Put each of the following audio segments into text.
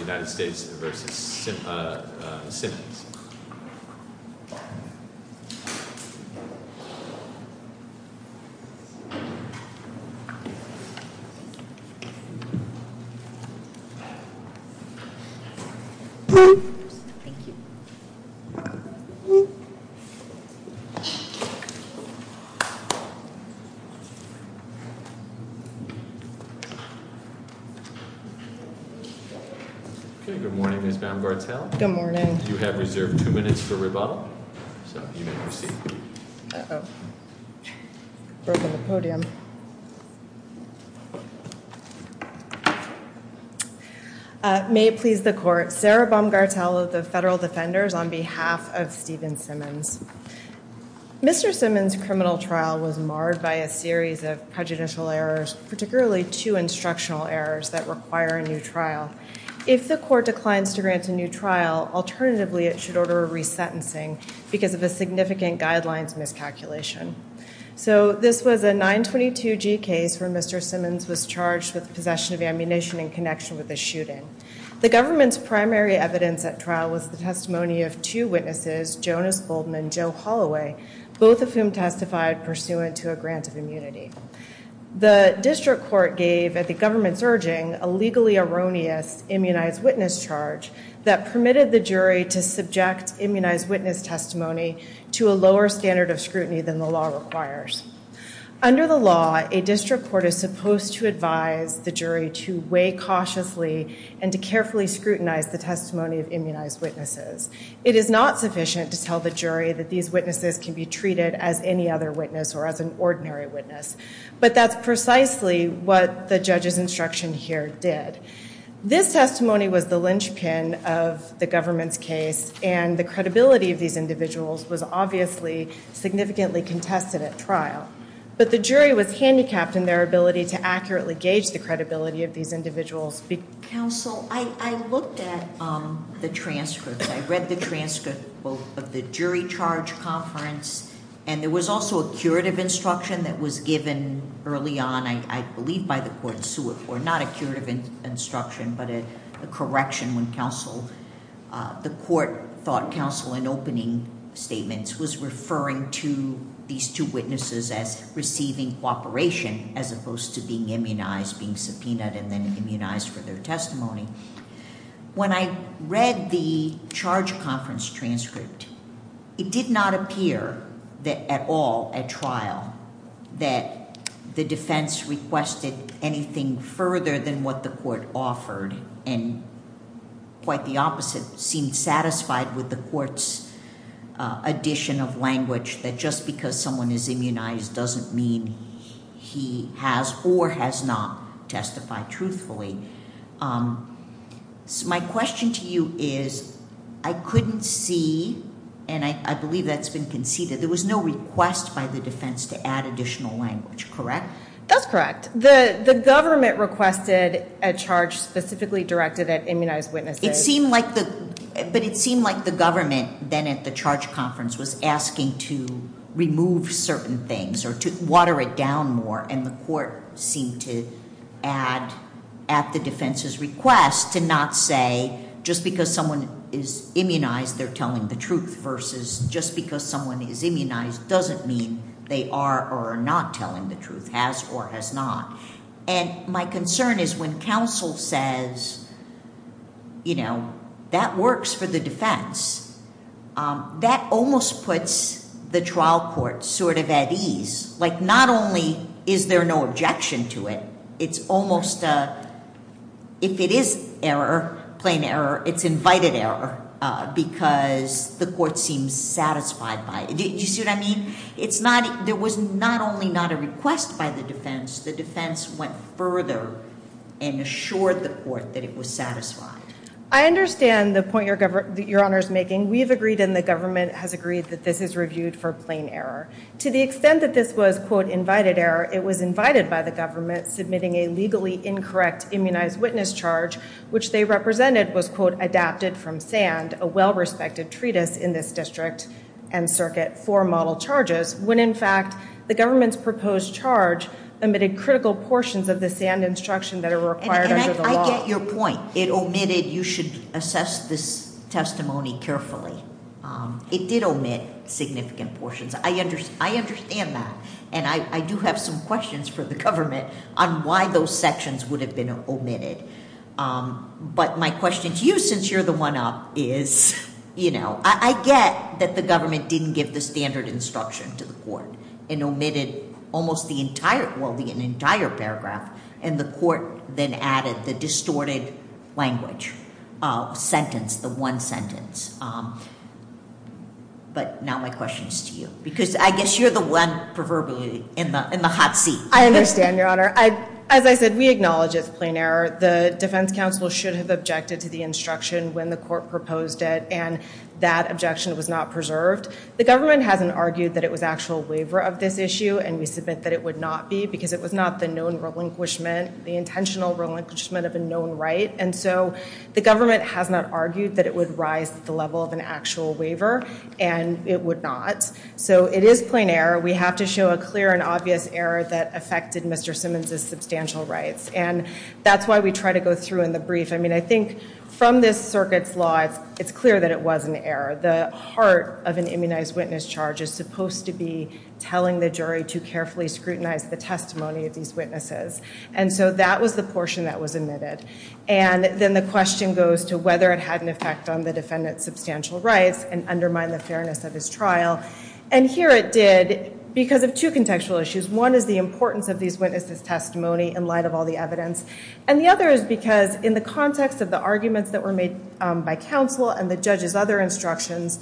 United States v. Simmons Good morning, Ms. Baumgartel. Good morning. You have reserved two minutes for rebuttal, so you may proceed. Uh-oh. I've broken the podium. May it please the Court, Sarah Baumgartel of the Federal Defenders on behalf of Stephen Simmons. Mr. Simmons' criminal trial was marred by a series of prejudicial errors, particularly two instructional errors that require a new trial. If the Court declines to grant a new trial, alternatively, it should order a resentencing because of a significant guidelines miscalculation. So this was a 922G case where Mr. Simmons was charged with possession of ammunition in connection with the shooting. The government's primary evidence at trial was the testimony of two witnesses, Jonas Bolden and Joe Holloway, both of whom testified pursuant to a grant of immunity. The district court gave, at the government's urging, a legally erroneous immunized witness charge that permitted the jury to subject immunized witness testimony to a lower standard of scrutiny than the law requires. Under the law, a district court is supposed to advise the jury to weigh cautiously and to carefully scrutinize the testimony of immunized witnesses. It is not sufficient to tell the jury that these witnesses can be treated as any other witness or as an ordinary witness, but that's precisely what the judge's instruction here did. This testimony was the linchpin of the government's case, and the credibility of these individuals was obviously significantly contested at trial. But the jury was handicapped in their ability to accurately gauge the credibility of these individuals. Counsel, I looked at the transcripts. I read the transcript of the jury charge conference, and there was also a curative instruction that was given early on, I believe by the court, not a curative instruction but a correction when the court thought counsel in opening statements was referring to these two witnesses as receiving cooperation as opposed to being immunized, being subpoenaed, and then immunized for their testimony. When I read the charge conference transcript, it did not appear at all at trial that the defense requested anything further than what the court offered, and quite the opposite, seemed satisfied with the court's addition of language that just because someone is immunized doesn't mean he has or has not testified truthfully. My question to you is, I couldn't see, and I believe that's been conceded, there was no request by the defense to add additional language, correct? That's correct. The government requested a charge specifically directed at immunized witnesses. But it seemed like the government then at the charge conference was asking to remove certain things or to water it down more, and the court seemed to add at the defense's request to not say just because someone is immunized they're telling the truth versus just because someone is immunized doesn't mean they are or are not telling the truth, has or has not. And my concern is when counsel says, you know, that works for the defense, that almost puts the trial court sort of at ease. Like not only is there no objection to it, it's almost, if it is error, plain error, it's invited error because the court seems satisfied by it. Do you see what I mean? It's not, there was not only not a request by the defense, the defense went further and assured the court that it was satisfied. I understand the point your Honor is making. We've agreed and the government has agreed that this is reviewed for plain error. To the extent that this was, quote, invited error, it was invited by the government submitting a legally incorrect immunized witness charge, which they represented was, quote, adapted from SAND, a well-respected treatise in this district and circuit for model charges, when in fact the government's proposed charge omitted critical portions of the SAND instruction that are required under the law. I get your point. It omitted, you should assess this testimony carefully. It did omit significant portions. I understand that. And I do have some questions for the government on why those sections would have been omitted. But my question to you, since you're the one up, is, you know, I get that the government didn't give the standard instruction to the court and omitted almost the entire, well, the entire paragraph, and the court then added the distorted language sentence, the one sentence. But now my question is to you, because I guess you're the one proverbial in the hot seat. I understand, your Honor. As I said, we acknowledge it's plain error. The defense counsel should have objected to the instruction when the court proposed it, and that objection was not preserved. The government hasn't argued that it was actual waiver of this issue, and we submit that it would not be, because it was not the known relinquishment, the intentional relinquishment of a known right. And so the government has not argued that it would rise to the level of an actual waiver, and it would not. So it is plain error. We have to show a clear and obvious error that affected Mr. Simmons's substantial rights. And that's why we try to go through in the brief. I mean, I think from this circuit's law, it's clear that it was an error. The heart of an immunized witness charge is supposed to be telling the jury to carefully scrutinize the testimony of these witnesses. And so that was the portion that was omitted. And then the question goes to whether it had an effect on the defendant's substantial rights and undermine the fairness of his trial. And here it did, because of two contextual issues. One is the importance of these witnesses' testimony in light of all the evidence. And the other is because in the context of the arguments that were made by counsel and the judge's other instructions,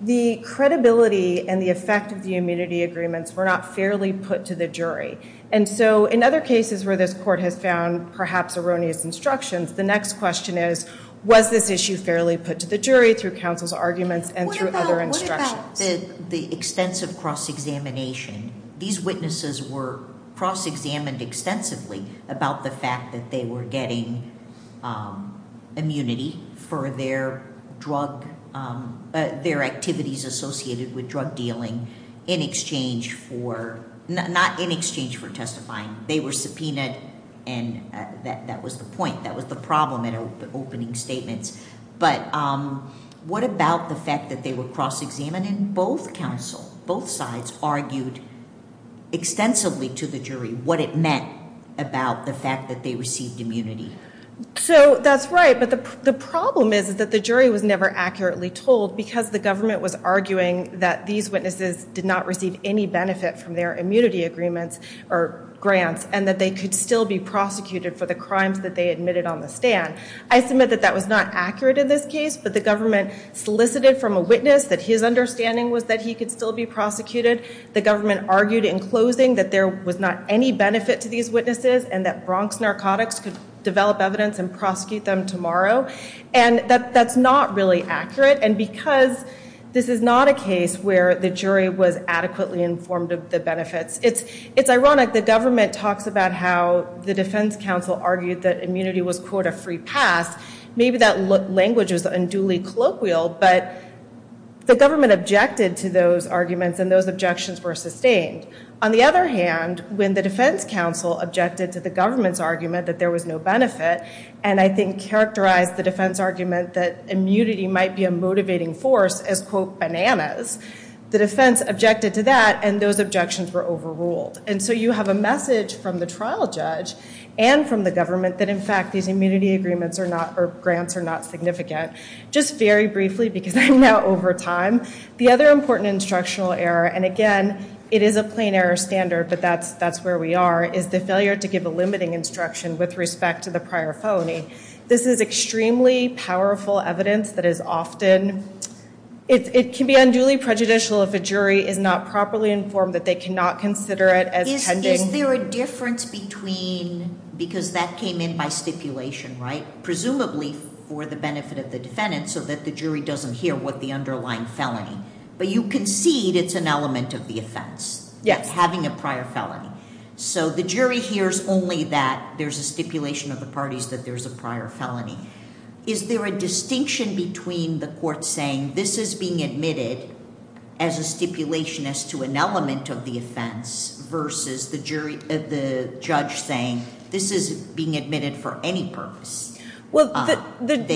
the credibility and the effect of the immunity agreements were not fairly put to the jury. And so in other cases where this court has found perhaps erroneous instructions, the next question is, was this issue fairly put to the jury through counsel's arguments and through other instructions? What about the extensive cross-examination? These witnesses were cross-examined extensively about the fact that they were getting immunity for their drug – their activities associated with drug dealing in exchange for – not in exchange for testifying. They were subpoenaed, and that was the point. That was the problem in opening statements. But what about the fact that they were cross-examined? And both counsel, both sides argued extensively to the jury what it meant about the fact that they received immunity. So that's right, but the problem is that the jury was never accurately told because the government was arguing that these witnesses did not receive any benefit from their immunity agreements or grants and that they could still be prosecuted for the crimes that they admitted on the stand. I submit that that was not accurate in this case, but the government solicited from a witness that his understanding was that he could still be prosecuted. The government argued in closing that there was not any benefit to these witnesses and that Bronx Narcotics could develop evidence and prosecute them tomorrow. And that's not really accurate. And because this is not a case where the jury was adequately informed of the benefits – it's ironic the government talks about how the defense counsel argued that immunity was, quote, a free pass. Maybe that language was unduly colloquial, but the government objected to those arguments and those objections were sustained. On the other hand, when the defense counsel objected to the government's argument that there was no benefit and I think characterized the defense argument that immunity might be a motivating force as, quote, bananas, the defense objected to that and those objections were overruled. And so you have a message from the trial judge and from the government that in fact these immunity agreements or grants are not significant. Just very briefly, because I'm now over time, the other important instructional error, and again, it is a plain error standard, but that's where we are, is the failure to give a limiting instruction with respect to the prior felony. This is extremely powerful evidence that is often – it can be unduly prejudicial if a jury is not properly informed that they cannot consider it as pending. Is there a difference between – because that came in by stipulation, right? Presumably for the benefit of the defendant so that the jury doesn't hear what the underlying felony. But you concede it's an element of the offense. Yes. Having a prior felony. So the jury hears only that there's a stipulation of the parties that there's a prior felony. Is there a distinction between the court saying this is being admitted as a stipulation as to an element of the offense versus the judge saying this is being admitted for any purpose? Well, the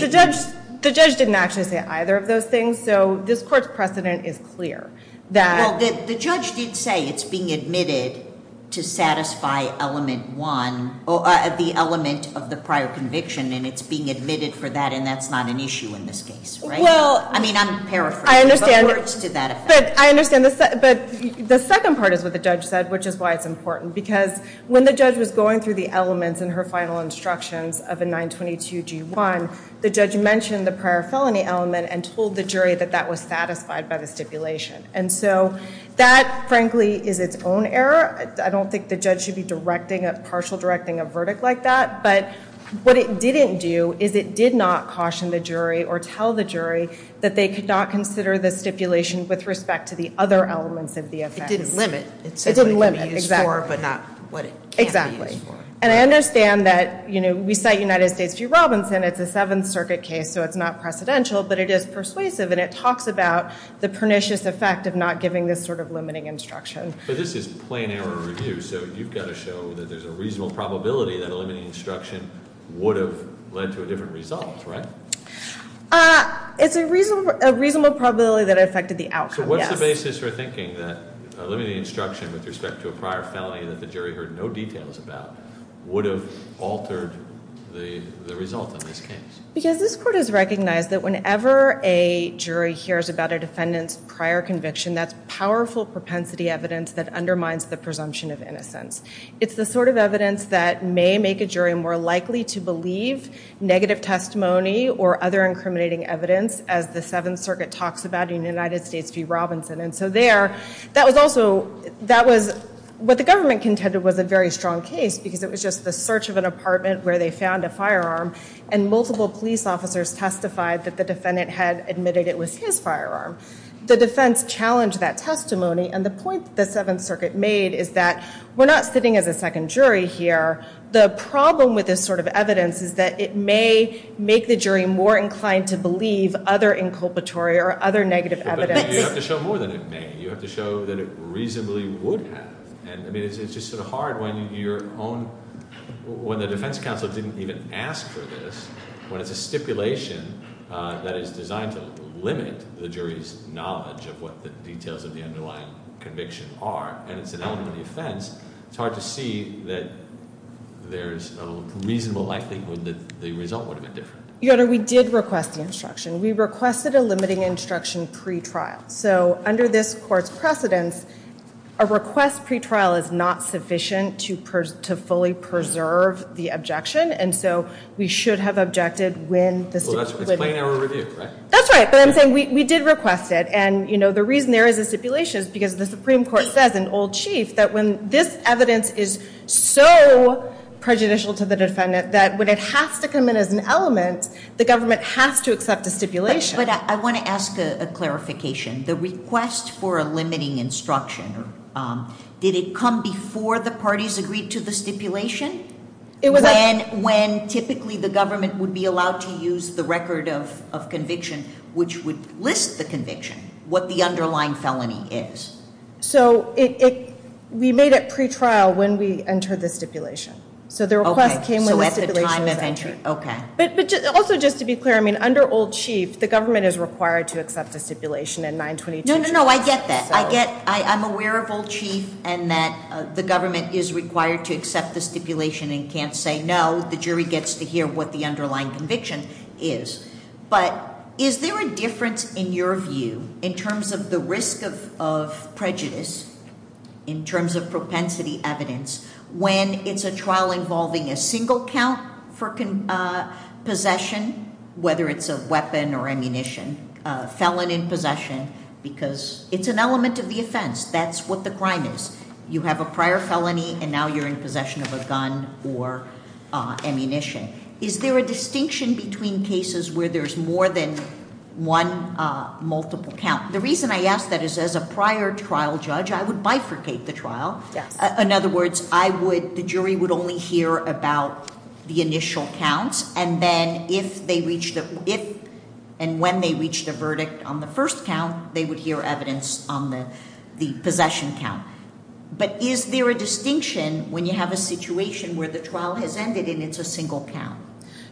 judge didn't actually say either of those things, so this court's precedent is clear. Well, the judge did say it's being admitted to satisfy element one, the element of the prior conviction, and it's being admitted for that, and that's not an issue in this case, right? Well – I mean, I'm paraphrasing. I understand, but the second part is what the judge said, which is why it's important. Because when the judge was going through the elements in her final instructions of a 922G1, the judge mentioned the prior felony element and told the jury that that was satisfied by the stipulation. And so that, frankly, is its own error. I don't think the judge should be partial directing a verdict like that. But what it didn't do is it did not caution the jury or tell the jury that they could not consider the stipulation with respect to the other elements of the offense. It didn't limit. It said what it could be used for but not what it can't be used for. Exactly. And I understand that we cite United States v. Robinson. It's a Seventh Circuit case, so it's not precedential, but it is persuasive, and it talks about the pernicious effect of not giving this sort of limiting instruction. But this is plain error review, so you've got to show that there's a reasonable probability that a limiting instruction would have led to a different result, right? It's a reasonable probability that it affected the outcome, yes. So what's the basis for thinking that a limiting instruction with respect to a prior felony that the jury heard no details about would have altered the result of this case? Because this court has recognized that whenever a jury hears about a defendant's prior conviction, that's powerful propensity evidence that undermines the presumption of innocence. It's the sort of evidence that may make a jury more likely to believe negative testimony or other incriminating evidence, as the Seventh Circuit talks about in United States v. Robinson. And so there, that was also, that was, what the government contended was a very strong case because it was just the search of an apartment where they found a firearm, and multiple police officers testified that the defendant had admitted it was his firearm. The defense challenged that testimony, and the point that the Seventh Circuit made is that we're not sitting as a second jury here. The problem with this sort of evidence is that it may make the jury more inclined to believe other inculpatory or other negative evidence. You have to show more than it may. You have to show that it reasonably would have. And I mean, it's just sort of hard when your own, when the defense counsel didn't even ask for this, when it's a stipulation that is designed to limit the jury's knowledge of what the details of the underlying conviction are, and it's an element of the offense, it's hard to see that there's a reasonable likelihood that the result would have been different. Your Honor, we did request the instruction. We requested a limiting instruction pretrial. So under this court's precedence, a request pretrial is not sufficient to fully preserve the objection, and so we should have objected when the stipulation was given. It's plain error review, right? That's right, but I'm saying we did request it. And, you know, the reason there is a stipulation is because the Supreme Court says in Old Chief that when this evidence is so prejudicial to the defendant that when it has to come in as an element, the government has to accept a stipulation. But I want to ask a clarification. The request for a limiting instruction, did it come before the parties agreed to the stipulation? When typically the government would be allowed to use the record of conviction, which would list the conviction, what the underlying felony is. So we made it pretrial when we entered the stipulation. So the request came when the stipulation was entered. Okay. But also just to be clear, I mean, under Old Chief, the government is required to accept a stipulation in 922. No, no, no, I get that. I'm aware of Old Chief and that the government is required to accept the stipulation and can't say no. The jury gets to hear what the underlying conviction is. But is there a difference in your view in terms of the risk of prejudice, in terms of propensity evidence, when it's a trial involving a single count for possession, whether it's a weapon or ammunition, a felon in possession, because it's an element of the offense. That's what the crime is. You have a prior felony and now you're in possession of a gun or ammunition. Is there a distinction between cases where there's more than one multiple count? The reason I ask that is as a prior trial judge, I would bifurcate the trial. In other words, the jury would only hear about the initial counts, and then if and when they reached a verdict on the first count, they would hear evidence on the possession count. But is there a distinction when you have a situation where the trial has ended and it's a single count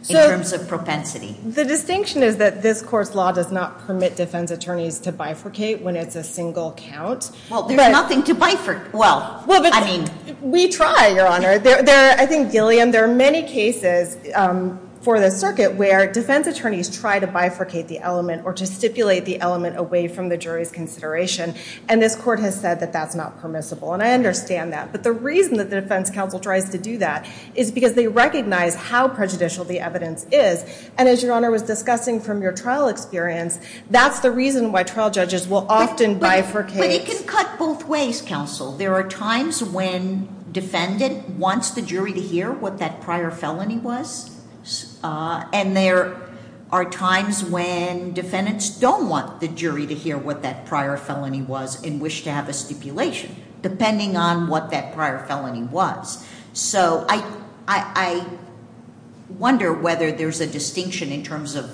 in terms of propensity? The distinction is that this Court's law does not permit defense attorneys to bifurcate when it's a single count. Well, there's nothing to bifurcate. We try, Your Honor. I think, Gillian, there are many cases for the circuit where defense attorneys try to bifurcate the element or to stipulate the element away from the jury's consideration, and this Court has said that that's not permissible, and I understand that. But the reason that the defense counsel tries to do that is because they recognize how prejudicial the evidence is, and as Your Honor was discussing from your trial experience, that's the reason why trial judges will often bifurcate. But it can cut both ways, counsel. There are times when defendant wants the jury to hear what that prior felony was, and there are times when defendants don't want the jury to hear what that prior felony was and wish to have a stipulation depending on what that prior felony was. So I wonder whether there's a distinction in terms of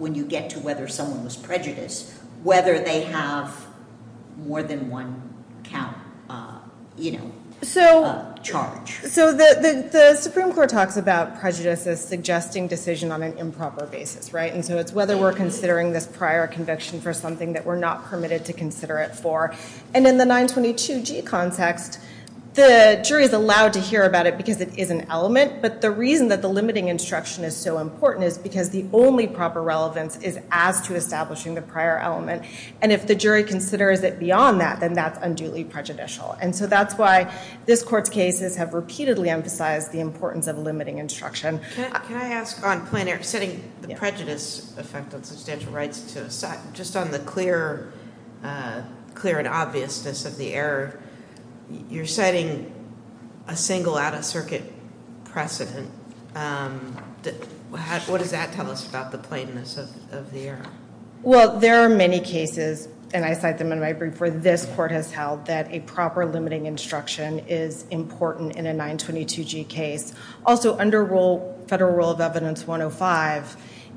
when you get to whether someone was prejudiced, whether they have more than one count, you know, charge. So the Supreme Court talks about prejudice as suggesting decision on an improper basis, right? And so it's whether we're considering this prior conviction for something that we're not permitted to consider it for. And in the 922G context, the jury is allowed to hear about it because it is an element, but the reason that the limiting instruction is so important is because the only proper relevance is as to establishing the prior element. And if the jury considers it beyond that, then that's unduly prejudicial. And so that's why this Court's cases have repeatedly emphasized the importance of limiting instruction. Can I ask on plain error, setting the prejudice effect on substantial rights, just on the clear and obviousness of the error, you're setting a single out-of-circuit precedent. What does that tell us about the plainness of the error? Well, there are many cases, and I cite them in my brief, where this Court has held that a proper limiting instruction is important in a 922G case. Also, under Federal Rule of Evidence 105,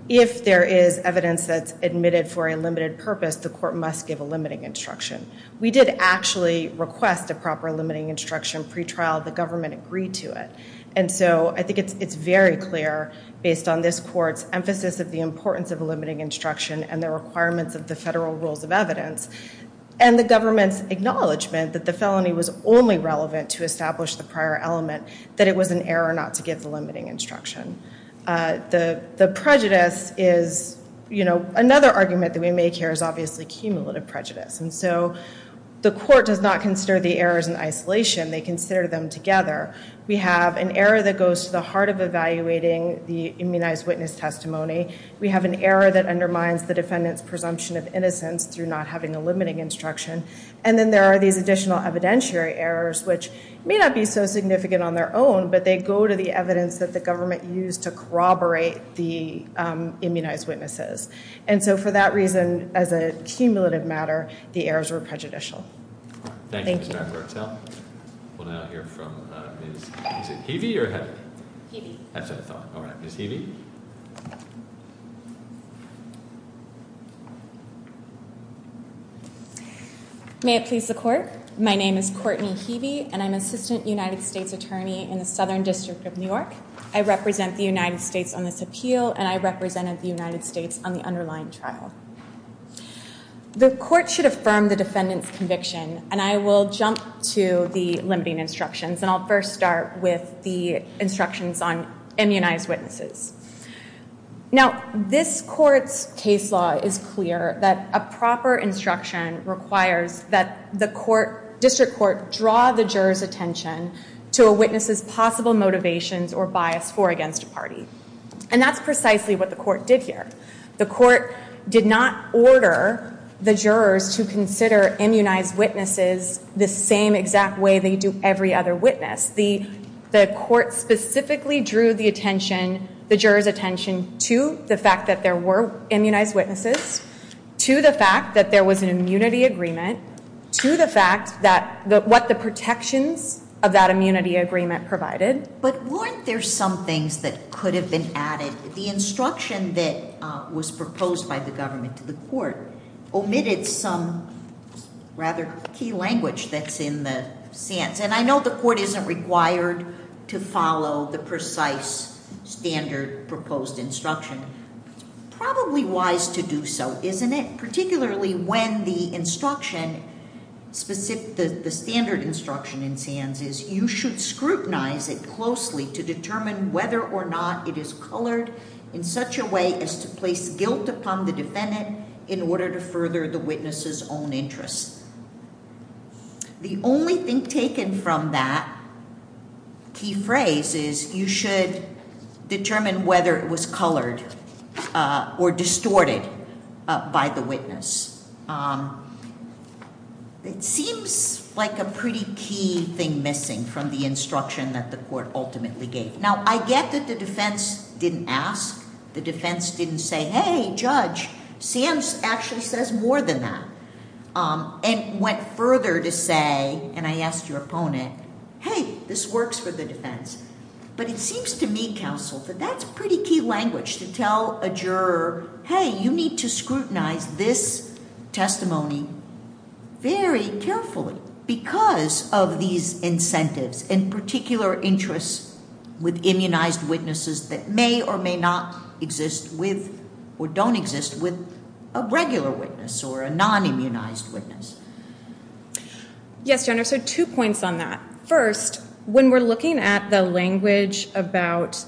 if there is evidence that's admitted for a limited purpose, the Court must give a limiting instruction. We did actually request a proper limiting instruction pretrial. The government agreed to it. And so I think it's very clear, based on this Court's emphasis of the importance of limiting instruction and the requirements of the federal rules of evidence, and the government's acknowledgment that the felony was only relevant to establish the prior element, that it was an error not to give the limiting instruction. The prejudice is, you know, another argument that we make here is obviously cumulative prejudice. And so the Court does not consider the errors in isolation. They consider them together. We have an error that goes to the heart of evaluating the immunized witness testimony. We have an error that undermines the defendant's presumption of innocence through not having a limiting instruction. And then there are these additional evidentiary errors, which may not be so significant on their own, but they go to the evidence that the government used to corroborate the immunized witnesses. And so for that reason, as a cumulative matter, the errors were prejudicial. Thank you. Thank you, Ms. McLartell. We'll now hear from Ms. Heavey or Heather? Heavey. That's what I thought. All right. Ms. Heavey? May it please the Court. My name is Courtney Heavey, and I'm Assistant United States Attorney in the Southern District of New York. I represent the United States on this appeal, and I represented the United States on the underlying trial. The Court should affirm the defendant's conviction, and I will jump to the limiting instructions. And I'll first start with the instructions on immunized witnesses. Now, this Court's case law is clear that a proper instruction requires that the District Court draw the juror's attention to a witness's possible motivations or bias for or against a party. And that's precisely what the Court did here. The Court did not order the jurors to consider immunized witnesses the same exact way they do every other witness. The Court specifically drew the attention, the jurors' attention, to the fact that there were immunized witnesses, to the fact that there was an immunity agreement, to the fact that what the protections of that immunity agreement provided. But weren't there some things that could have been added? The instruction that was proposed by the government to the Court omitted some rather key language that's in the sentence. And I know the Court isn't required to follow the precise standard proposed instruction. It's probably wise to do so, isn't it? Particularly when the instruction, the standard instruction in SANS is you should scrutinize it closely to determine whether or not it is colored in such a way as to place guilt upon the defendant in order to further the witness's own interests. The only thing taken from that key phrase is you should determine whether it was colored or distorted by the witness. It seems like a pretty key thing missing from the instruction that the Court ultimately gave. Now, I get that the defense didn't ask, the defense didn't say, hey, judge, SANS actually says more than that. And went further to say, and I asked your opponent, hey, this works for the defense. But it seems to me, counsel, that that's pretty key language to tell a juror, hey, you need to scrutinize this testimony very carefully because of these incentives and particular interests with immunized witnesses that may or may not exist with or don't exist with a regular witness or a non-immunized witness. Yes, Your Honor, so two points on that. First, when we're looking at the language about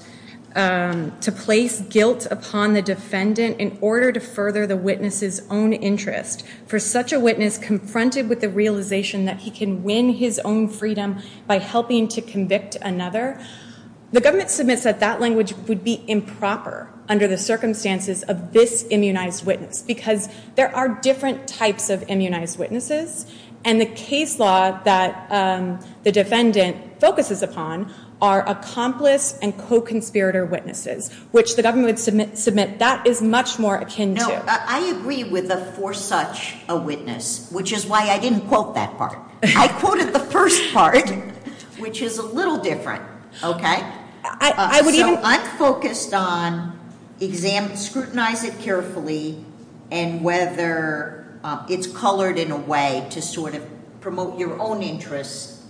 to place guilt upon the defendant in order to further the witness's own interest, for such a witness confronted with the realization that he can win his own freedom by helping to convict another, the government submits that that language would be improper under the circumstances of this immunized witness because there are different types of immunized witnesses. And the case law that the defendant focuses upon are accomplice and co-conspirator witnesses, which the government would submit that is much more akin to. No, I agree with the for such a witness, which is why I didn't quote that part. I quoted the first part, which is a little different, okay? So I'm focused on scrutinize it carefully and whether it's colored in a way to sort of promote your own interests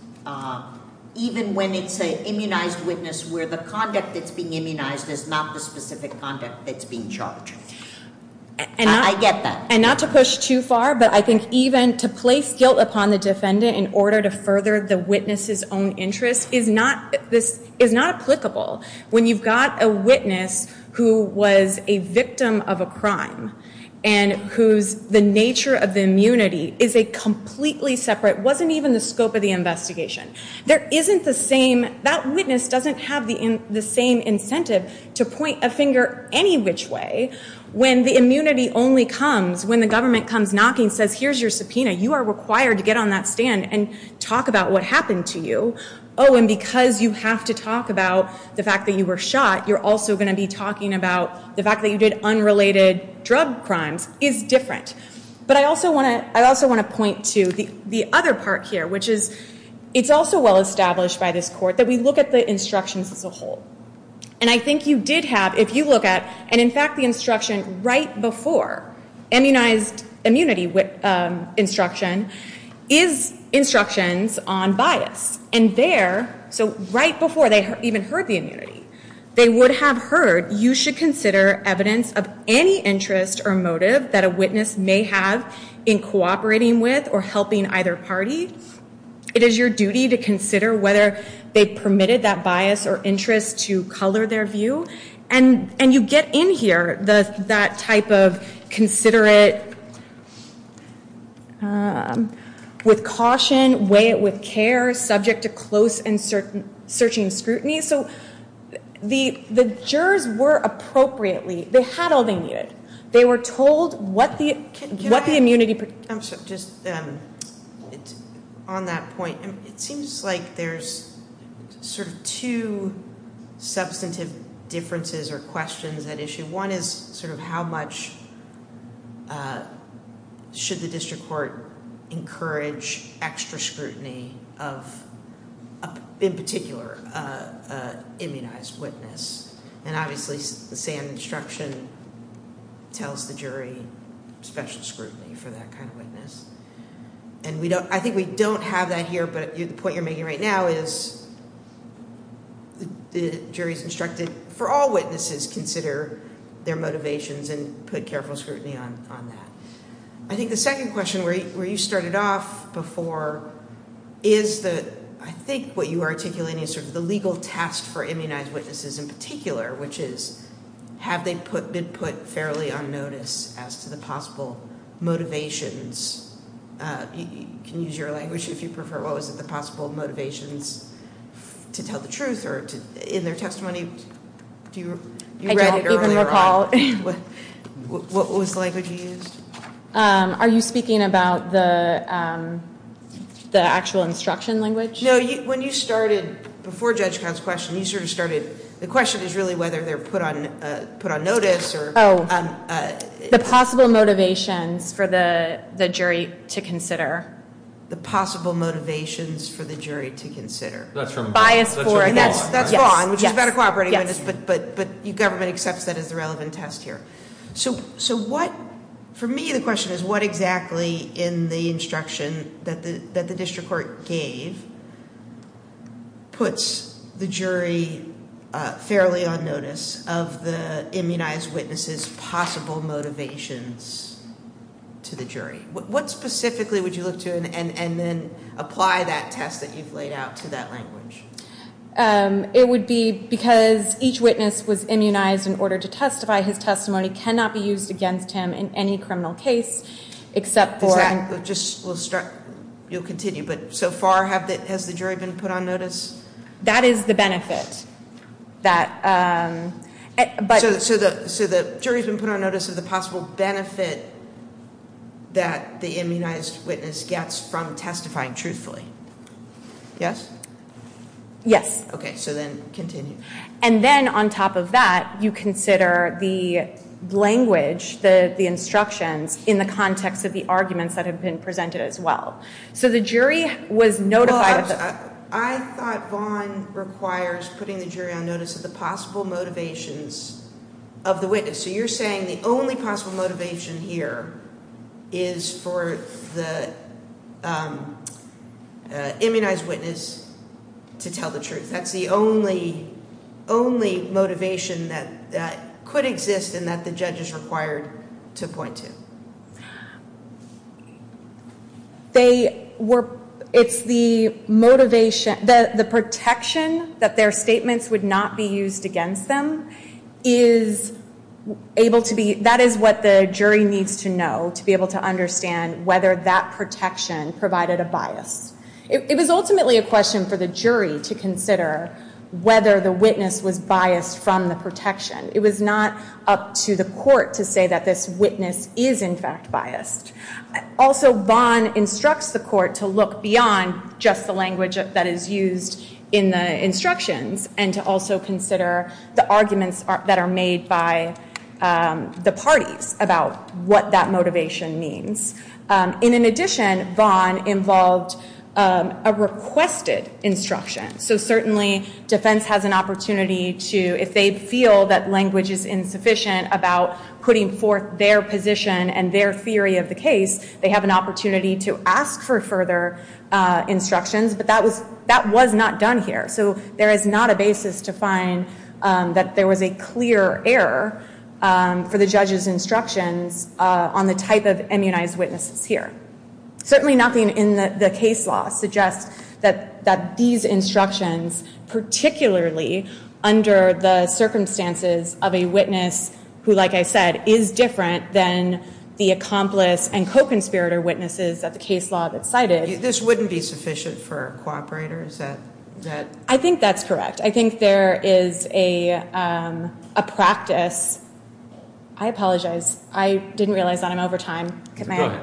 even when it's an immunized witness where the conduct that's being immunized is not the specific conduct that's being charged. I get that. And not to push too far, but I think even to place guilt upon the defendant in order to further the witness's own interest is not applicable when you've got a witness who was a victim of a crime and whose the nature of the immunity is a completely separate, wasn't even the scope of the investigation. There isn't the same, that witness doesn't have the same incentive to point a finger any which way when the immunity only comes when the government comes knocking and says, here's your subpoena, you are required to get on that stand and talk about what happened to you. Oh, and because you have to talk about the fact that you were shot, you're also going to be talking about the fact that you did unrelated drug crimes is different. But I also want to point to the other part here, which is it's also well established by this court that we look at the instructions as a whole. And I think you did have, if you look at, and in fact the instruction right before, immunized immunity instruction, is instructions on bias. And there, so right before they even heard the immunity, they would have heard you should consider evidence of any interest or motive that a witness may have in cooperating with or helping either party. It is your duty to consider whether they permitted that bias or interest to color their view. And you get in here that type of considerate, with caution, weigh it with care, subject to close and searching scrutiny. So the jurors were appropriately, they had all they needed. They were told what the immunity. On that point, it seems like there's sort of two substantive differences or questions at issue. One is sort of how much should the district court encourage extra scrutiny of, in particular, an immunized witness. And obviously the SAM instruction tells the jury special scrutiny for that kind of witness. And I think we don't have that here, but the point you're making right now is the jury's instructed, for all witnesses, consider their motivations and put careful scrutiny on that. I think the second question, where you started off before, is the, I think what you are articulating is sort of the legal task for immunized witnesses in particular, which is have they been put fairly on notice as to the possible motivations. You can use your language if you prefer. What was it, the possible motivations to tell the truth or in their testimony? I don't even recall. What was the language you used? Are you speaking about the actual instruction language? No. When you started before Judge Kahn's question, you sort of started, the question is really whether they're put on notice. Oh. The possible motivations for the jury to consider. The possible motivations for the jury to consider. That's from Vaughn. And that's Vaughn, which is a better cooperating witness, but your government accepts that as the relevant test here. So what, for me the question is what exactly in the instruction that the district court gave puts the jury fairly on notice of the immunized witness's possible motivations to the jury? What specifically would you look to and then apply that test that you've laid out to that language? It would be because each witness was immunized in order to testify. His testimony cannot be used against him in any criminal case except for. We'll start, you'll continue, but so far has the jury been put on notice? That is the benefit. So the jury's been put on notice of the possible benefit that the immunized witness gets from testifying truthfully. Yes? Yes. Okay, so then continue. And then on top of that, you consider the language, the instructions in the context of the arguments that have been presented as well. So the jury was notified. I thought Vaughn requires putting the jury on notice of the possible motivations of the witness. So you're saying the only possible motivation here is for the immunized witness to tell the truth. That's the only motivation that could exist and that the judge is required to point to. They were, it's the motivation, the protection that their statements would not be used against them is able to be, that is what the jury needs to know to be able to understand whether that protection provided a bias. It was ultimately a question for the jury to consider whether the witness was biased from the protection. It was not up to the court to say that this witness is in fact biased. Also, Vaughn instructs the court to look beyond just the language that is used in the instructions and to also consider the arguments that are made by the parties about what that motivation means. In addition, Vaughn involved a requested instruction. So certainly defense has an opportunity to, if they feel that language is insufficient about putting forth their position and their theory of the case, they have an opportunity to ask for further instructions. But that was not done here. So there is not a basis to find that there was a clear error for the judge's instructions on the type of immunized witnesses here. Certainly nothing in the case law suggests that these instructions, particularly under the circumstances of a witness who, like I said, is different than the accomplice and co-conspirator witnesses that the case law cited. This wouldn't be sufficient for a cooperator? I think that's correct. I think there is a practice. I apologize. I didn't realize that I'm over time. Go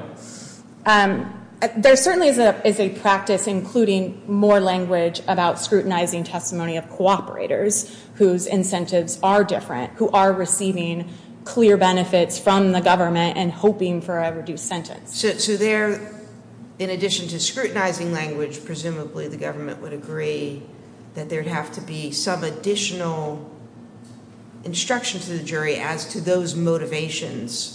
ahead. There certainly is a practice, including more language, about scrutinizing testimony of cooperators whose incentives are different, who are receiving clear benefits from the government and hoping for a reduced sentence. So there, in addition to scrutinizing language, presumably the government would agree that there would have to be some additional instruction to the jury as to those motivations.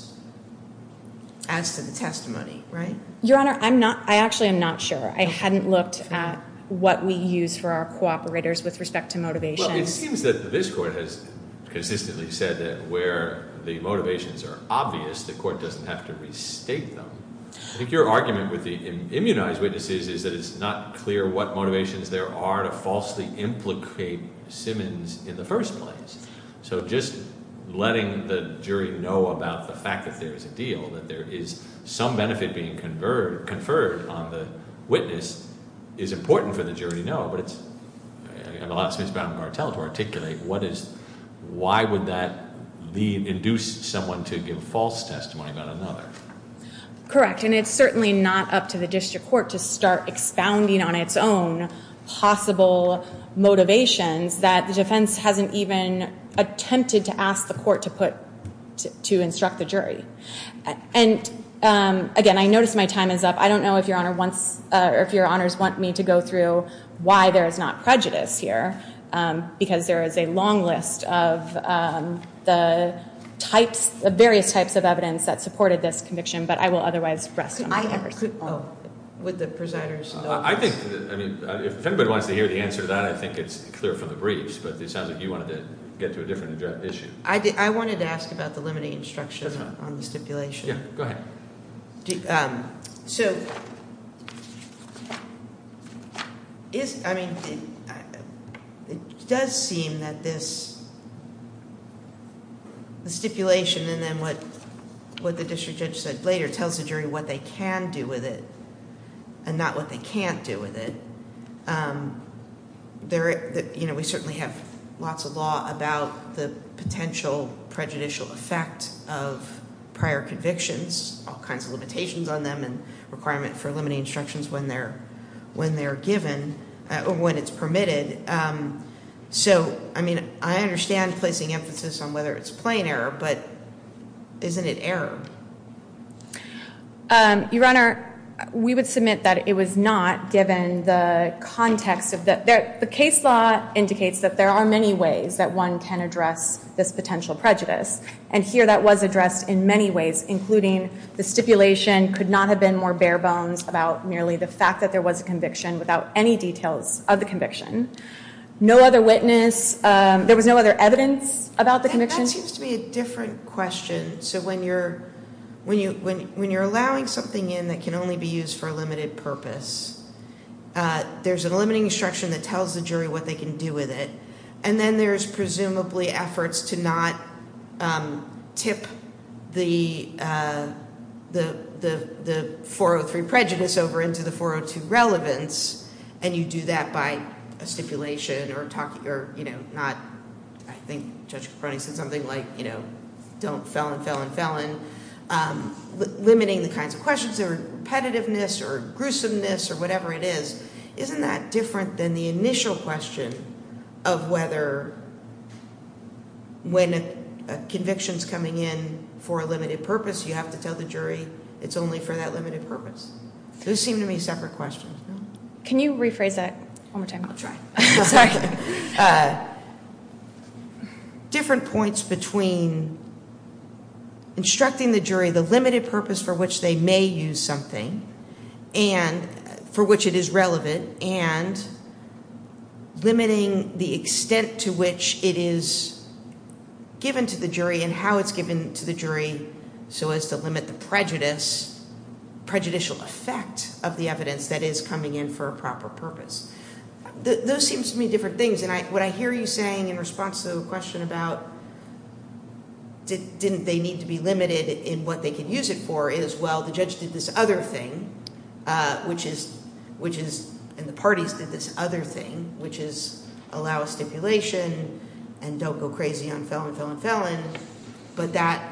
As to the testimony, right? Your Honor, I actually am not sure. I hadn't looked at what we use for our cooperators with respect to motivation. Well, it seems that this court has consistently said that where the motivations are obvious, the court doesn't have to restate them. I think your argument with the immunized witnesses is that it's not clear what motivations there are to falsely implicate Simmons in the first place. So just letting the jury know about the fact that there is a deal, that there is some benefit being conferred on the witness, is important for the jury to know. But it allows Ms. Baumgartel to articulate why would that induce someone to give false testimony about another. Correct, and it's certainly not up to the district court to start expounding on its own possible motivations that the defense hasn't even attempted to ask the court to put, to instruct the jury. And again, I notice my time is up. I don't know if your Honor wants, or if your Honors want me to go through why there is not prejudice here, because there is a long list of the types, the various types of evidence that supported this conviction, but I will otherwise rest on my horse. Could I have, oh, would the presiders? I think, I mean, if anybody wants to hear the answer to that, I think it's clear from the briefs, but it sounds like you wanted to get to a different issue. I wanted to ask about the limiting instruction on the stipulation. Yeah, go ahead. So, I mean, it does seem that this, the stipulation and then what the district judge said later, tells the jury what they can do with it and not what they can't do with it. You know, we certainly have lots of law about the potential prejudicial effect of prior convictions, all kinds of limitations on them and requirement for limiting instructions when they're given, or when it's permitted. So, I mean, I understand placing emphasis on whether it's plain error, but isn't it error? Your Honor, we would submit that it was not given the context of the, the case law indicates that there are many ways that one can address this potential prejudice, and here that was addressed in many ways, including the stipulation could not have been more bare bones about merely the fact that there was a conviction without any details of the conviction. No other witness, there was no other evidence about the conviction. That seems to be a different question. So, when you're allowing something in that can only be used for a limited purpose, there's a limiting instruction that tells the jury what they can do with it, and then there's presumably efforts to not tip the 403 prejudice over into the 402 relevance, and you do that by a stipulation or, you know, not, I think Judge Caproni said something like, you know, don't felon, felon, felon. Limiting the kinds of questions that are repetitiveness or gruesomeness or whatever it is, isn't that different than the initial question of whether when a conviction's coming in for a limited purpose, you have to tell the jury it's only for that limited purpose? Those seem to me separate questions. Can you rephrase that one more time? I'll try. Sorry. Different points between instructing the jury the limited purpose for which they may use something and for which it is relevant and limiting the extent to which it is given to the jury and how it's given to the jury so as to limit the prejudicial effect of the evidence that is coming in for a proper purpose. Those seem to me different things, and what I hear you saying in response to the question about didn't they need to be limited in what they could use it for is, well, the judge did this other thing, which is, and the parties did this other thing, which is allow stipulation and don't go crazy on felon, felon, felon, but that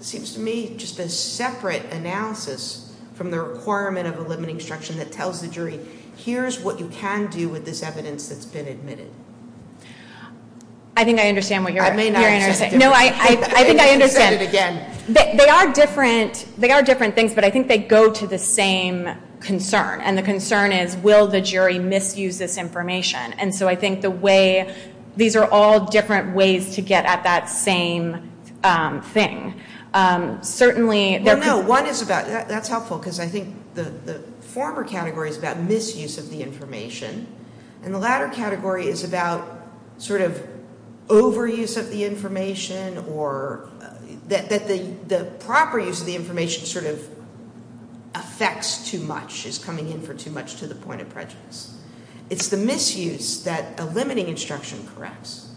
seems to me just a separate analysis from the requirement of a limiting instruction that tells the jury, here's what you can do with this evidence that's been admitted. I think I understand what you're saying. I may not understand. No, I think I understand. Say it again. They are different things, but I think they go to the same concern, and the concern is will the jury misuse this information, and so I think the way, these are all different ways to get at that same thing. Certainly there could be. Well, no, one is about, that's helpful, because I think the former category is about misuse of the information, and the latter category is about sort of overuse of the information or that the proper use of the information sort of affects too much, is coming in for too much to the point of prejudice. It's the misuse that a limiting instruction corrects.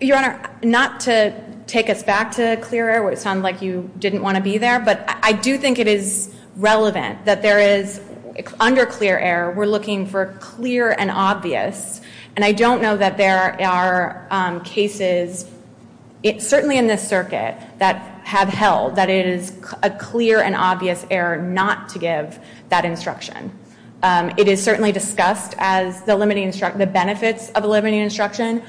Your Honor, not to take us back to clear air where it sounded like you didn't want to be there, but I do think it is relevant that there is, under clear air, we're looking for clear and obvious, and I don't know that there are cases, certainly in this circuit, that have held that it is a clear and obvious error not to give that instruction. It is certainly discussed as the benefits of a limiting instruction.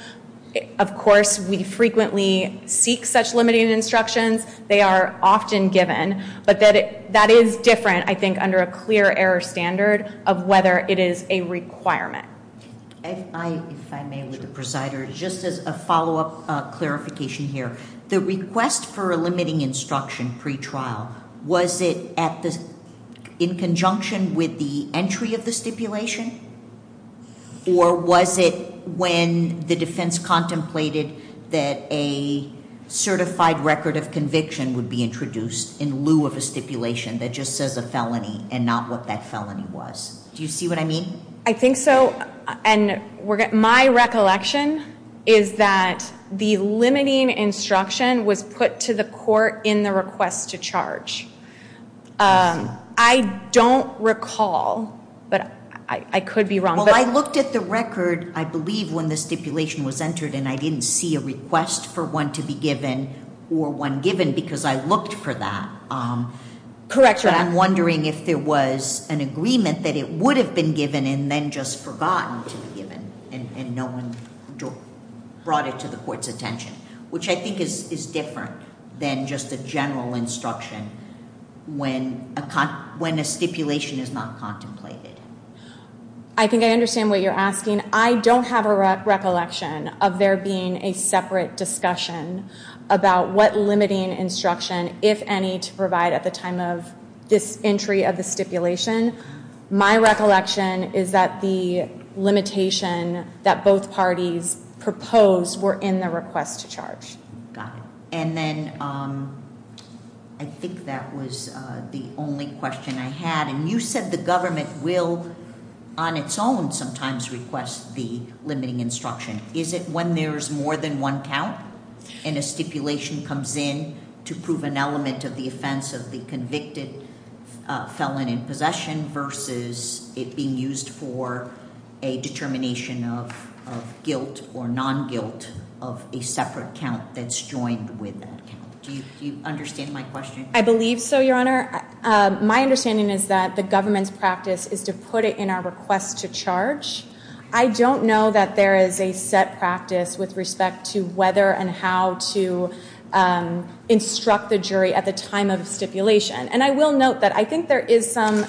Of course, we frequently seek such limiting instructions. They are often given, but that is different, I think, under a clear air standard of whether it is a requirement. If I may, with the presider, just as a follow-up clarification here. The request for a limiting instruction pretrial, was it in conjunction with the entry of the stipulation, or was it when the defense contemplated that a certified record of conviction would be introduced in lieu of a stipulation that just says a felony and not what that felony was? Do you see what I mean? I think so, and my recollection is that the limiting instruction was put to the court in the request to charge. I don't recall, but I could be wrong. Well, I looked at the record, I believe, when the stipulation was entered, and I didn't see a request for one to be given or one given because I looked for that. Correct. I'm wondering if there was an agreement that it would have been given and then just forgotten to be given, and no one brought it to the court's attention, which I think is different than just a general instruction when a stipulation is not contemplated. I think I understand what you're asking. I don't have a recollection of there being a separate discussion about what limiting instruction, if any, to provide at the time of this entry of the stipulation. My recollection is that the limitation that both parties proposed were in the request to charge. Got it. And then I think that was the only question I had, and you said the government will on its own sometimes request the limiting instruction. Is it when there's more than one count and a stipulation comes in to prove an element of the offense of the convicted felon in possession versus it being used for a determination of guilt or non-guilt of a separate count that's joined with that count? Do you understand my question? I believe so, Your Honor. My understanding is that the government's practice is to put it in our request to charge. I don't know that there is a set practice with respect to whether and how to instruct the jury at the time of stipulation, and I will note that I think there is some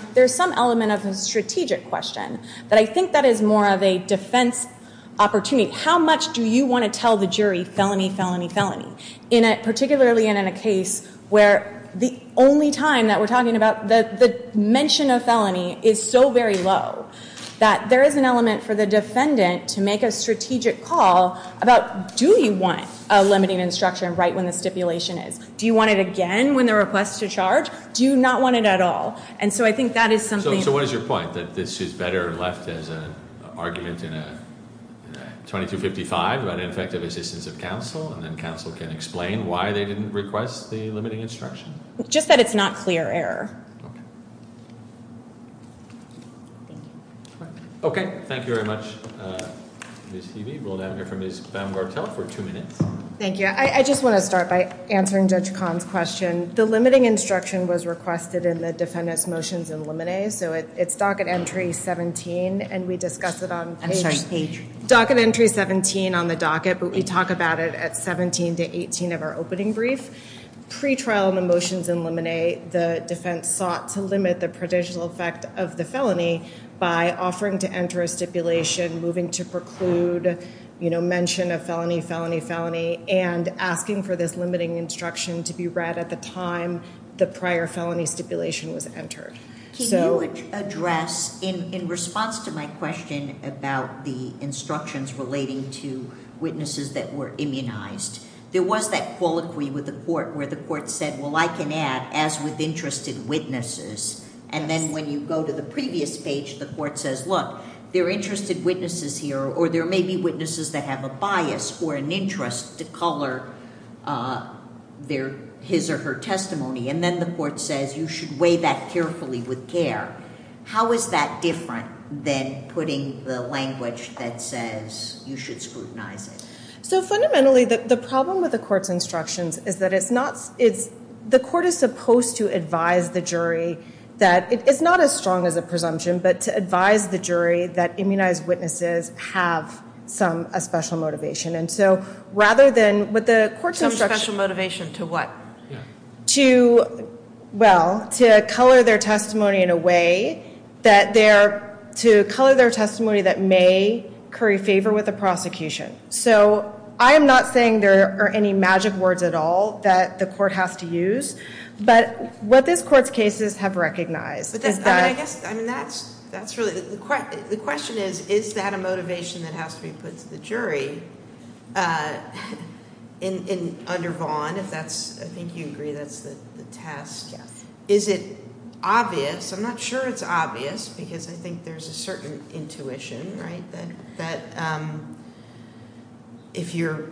element of a strategic question, but I think that is more of a defense opportunity. How much do you want to tell the jury felony, felony, felony, particularly in a case where the only time that we're talking about, the mention of felony is so very low that there is an element for the defendant to make a strategic call about, do you want a limiting instruction right when the stipulation is? Do you want it again when they request to charge? Do you not want it at all? And so I think that is something. So what is your point, that this is better left as an argument in a 2255 about ineffective assistance of counsel, and then counsel can explain why they didn't request the limiting instruction? Just that it's not clear error. Okay. Okay, thank you very much, Ms. Heavey. We'll now hear from Ms. Baumgartel for two minutes. Thank you. I just want to start by answering Judge Kahn's question. The limiting instruction was requested in the defendant's motions and limine. So it's docket entry 17, and we discussed it on page 17 on the docket, but we talk about it at 17 to 18 of our opening brief. Pre-trial in the motions and limine, the defense sought to limit the potential effect of the felony by offering to enter a stipulation, moving to preclude mention of felony, felony, felony, and asking for this limiting instruction to be read at the time the prior felony stipulation was entered. Can you address, in response to my question about the instructions relating to witnesses that were immunized, there was that colloquy with the court where the court said, well, I can add, as with interested witnesses. And then when you go to the previous page, the court says, look, there are interested witnesses here, or there may be witnesses that have a bias or an interest to color their his or her testimony. And then the court says you should weigh that carefully with care. How is that different than putting the language that says you should scrutinize it? So fundamentally, the problem with the court's instructions is that it's not, the court is supposed to advise the jury that, it's not as strong as a presumption, but to advise the jury that immunized witnesses have some special motivation. And so rather than, with the court's instructions. Some special motivation to what? To, well, to color their testimony in a way that they're, to color their testimony that may curry favor with the prosecution. So I am not saying there are any magic words at all that the court has to use, but what this court's cases have recognized is that. I guess, I mean, that's really, the question is, is that a motivation that has to be put to the jury under Vaughn? If that's, I think you agree that's the test. Yes. Is it obvious? I'm not sure it's obvious, because I think there's a certain intuition, right, that if you're,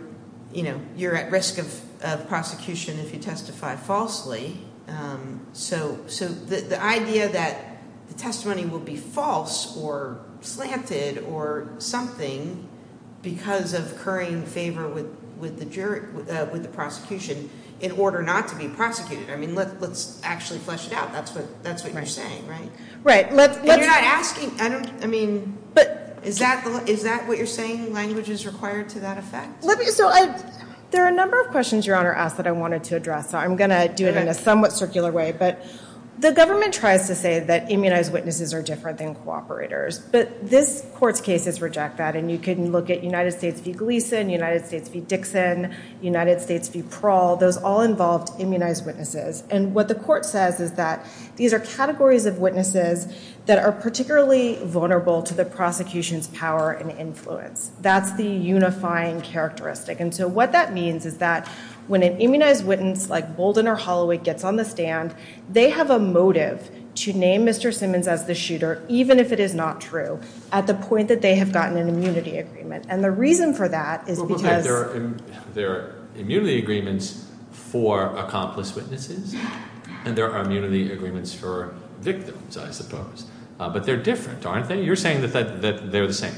you know, you're at risk of prosecution if you testify falsely. So the idea that the testimony will be false or slanted or something, because of currying favor with the jury, with the prosecution, in order not to be prosecuted. I mean, let's actually flesh it out. That's what you're saying, right? Right. And you're not asking, I mean, is that what you're saying? Language is required to that effect? So there are a number of questions, Your Honor, asked that I wanted to address, so I'm going to do it in a somewhat circular way. But the government tries to say that immunized witnesses are different than cooperators, but this court's cases reject that. And you can look at United States v. Gleason, United States v. Dixon, United States v. Prahl, those all involved immunized witnesses. And what the court says is that these are categories of witnesses that are particularly vulnerable to the prosecution's power and influence. That's the unifying characteristic. And so what that means is that when an immunized witness like Bolden or Holloway gets on the stand, they have a motive to name Mr. Simmons as the shooter, even if it is not true, at the point that they have gotten an immunity agreement. And the reason for that is because they're immunity agreements for accomplice witnesses, and there are immunity agreements for victims, I suppose. But they're different, aren't they? You're saying that they're the same.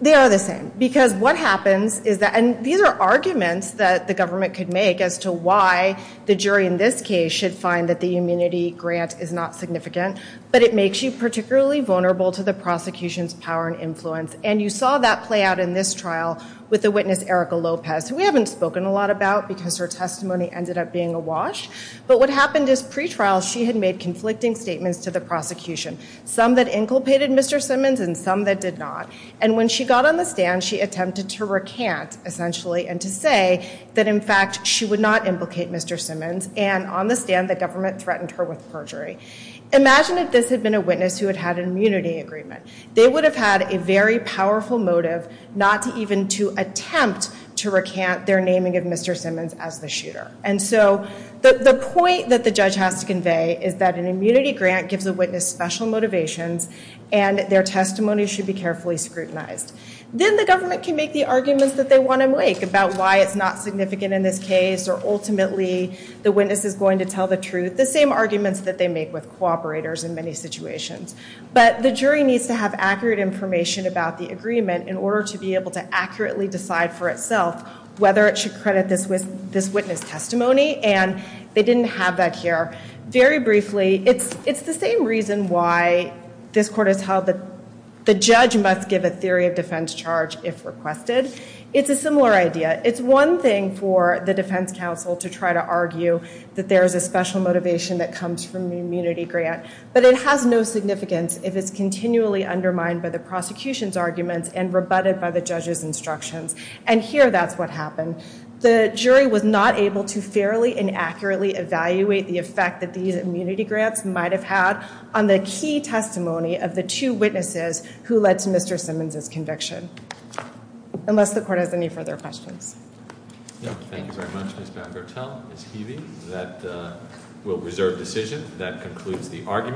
They are the same because what happens is that – and these are arguments that the government could make as to why the jury in this case should find that the immunity grant is not significant, but it makes you particularly vulnerable to the prosecution's power and influence. And you saw that play out in this trial with the witness Erica Lopez, who we haven't spoken a lot about because her testimony ended up being awash. But what happened is pre-trial she had made conflicting statements to the prosecution, some that inculcated Mr. Simmons and some that did not. And when she got on the stand, she attempted to recant, essentially, and to say that, in fact, she would not implicate Mr. Simmons, and on the stand the government threatened her with perjury. Imagine if this had been a witness who had had an immunity agreement. They would have had a very powerful motive not to even to attempt to recant their naming of Mr. Simmons as the shooter. And so the point that the judge has to convey is that an immunity grant gives a witness special motivations and their testimony should be carefully scrutinized. Then the government can make the arguments that they want to make about why it's not significant in this case, or ultimately the witness is going to tell the truth, the same arguments that they make with cooperators in many situations. But the jury needs to have accurate information about the agreement in order to be able to accurately decide for itself whether it should credit this witness testimony, and they didn't have that here. Very briefly, it's the same reason why this court has held that the judge must give a theory of defense charge if requested. It's a similar idea. It's one thing for the defense counsel to try to argue that there is a special motivation that comes from the immunity grant, but it has no significance if it's continually undermined by the prosecution's arguments and rebutted by the judge's instructions. And here that's what happened. The jury was not able to fairly and accurately evaluate the effect that these immunity grants might have had on the key testimony of the two witnesses who led to Mr. Simmons' conviction. Unless the court has any further questions. Thank you very much, Ms. Van Gertel. Ms. Heavey, that will reserve decision. That concludes the argument.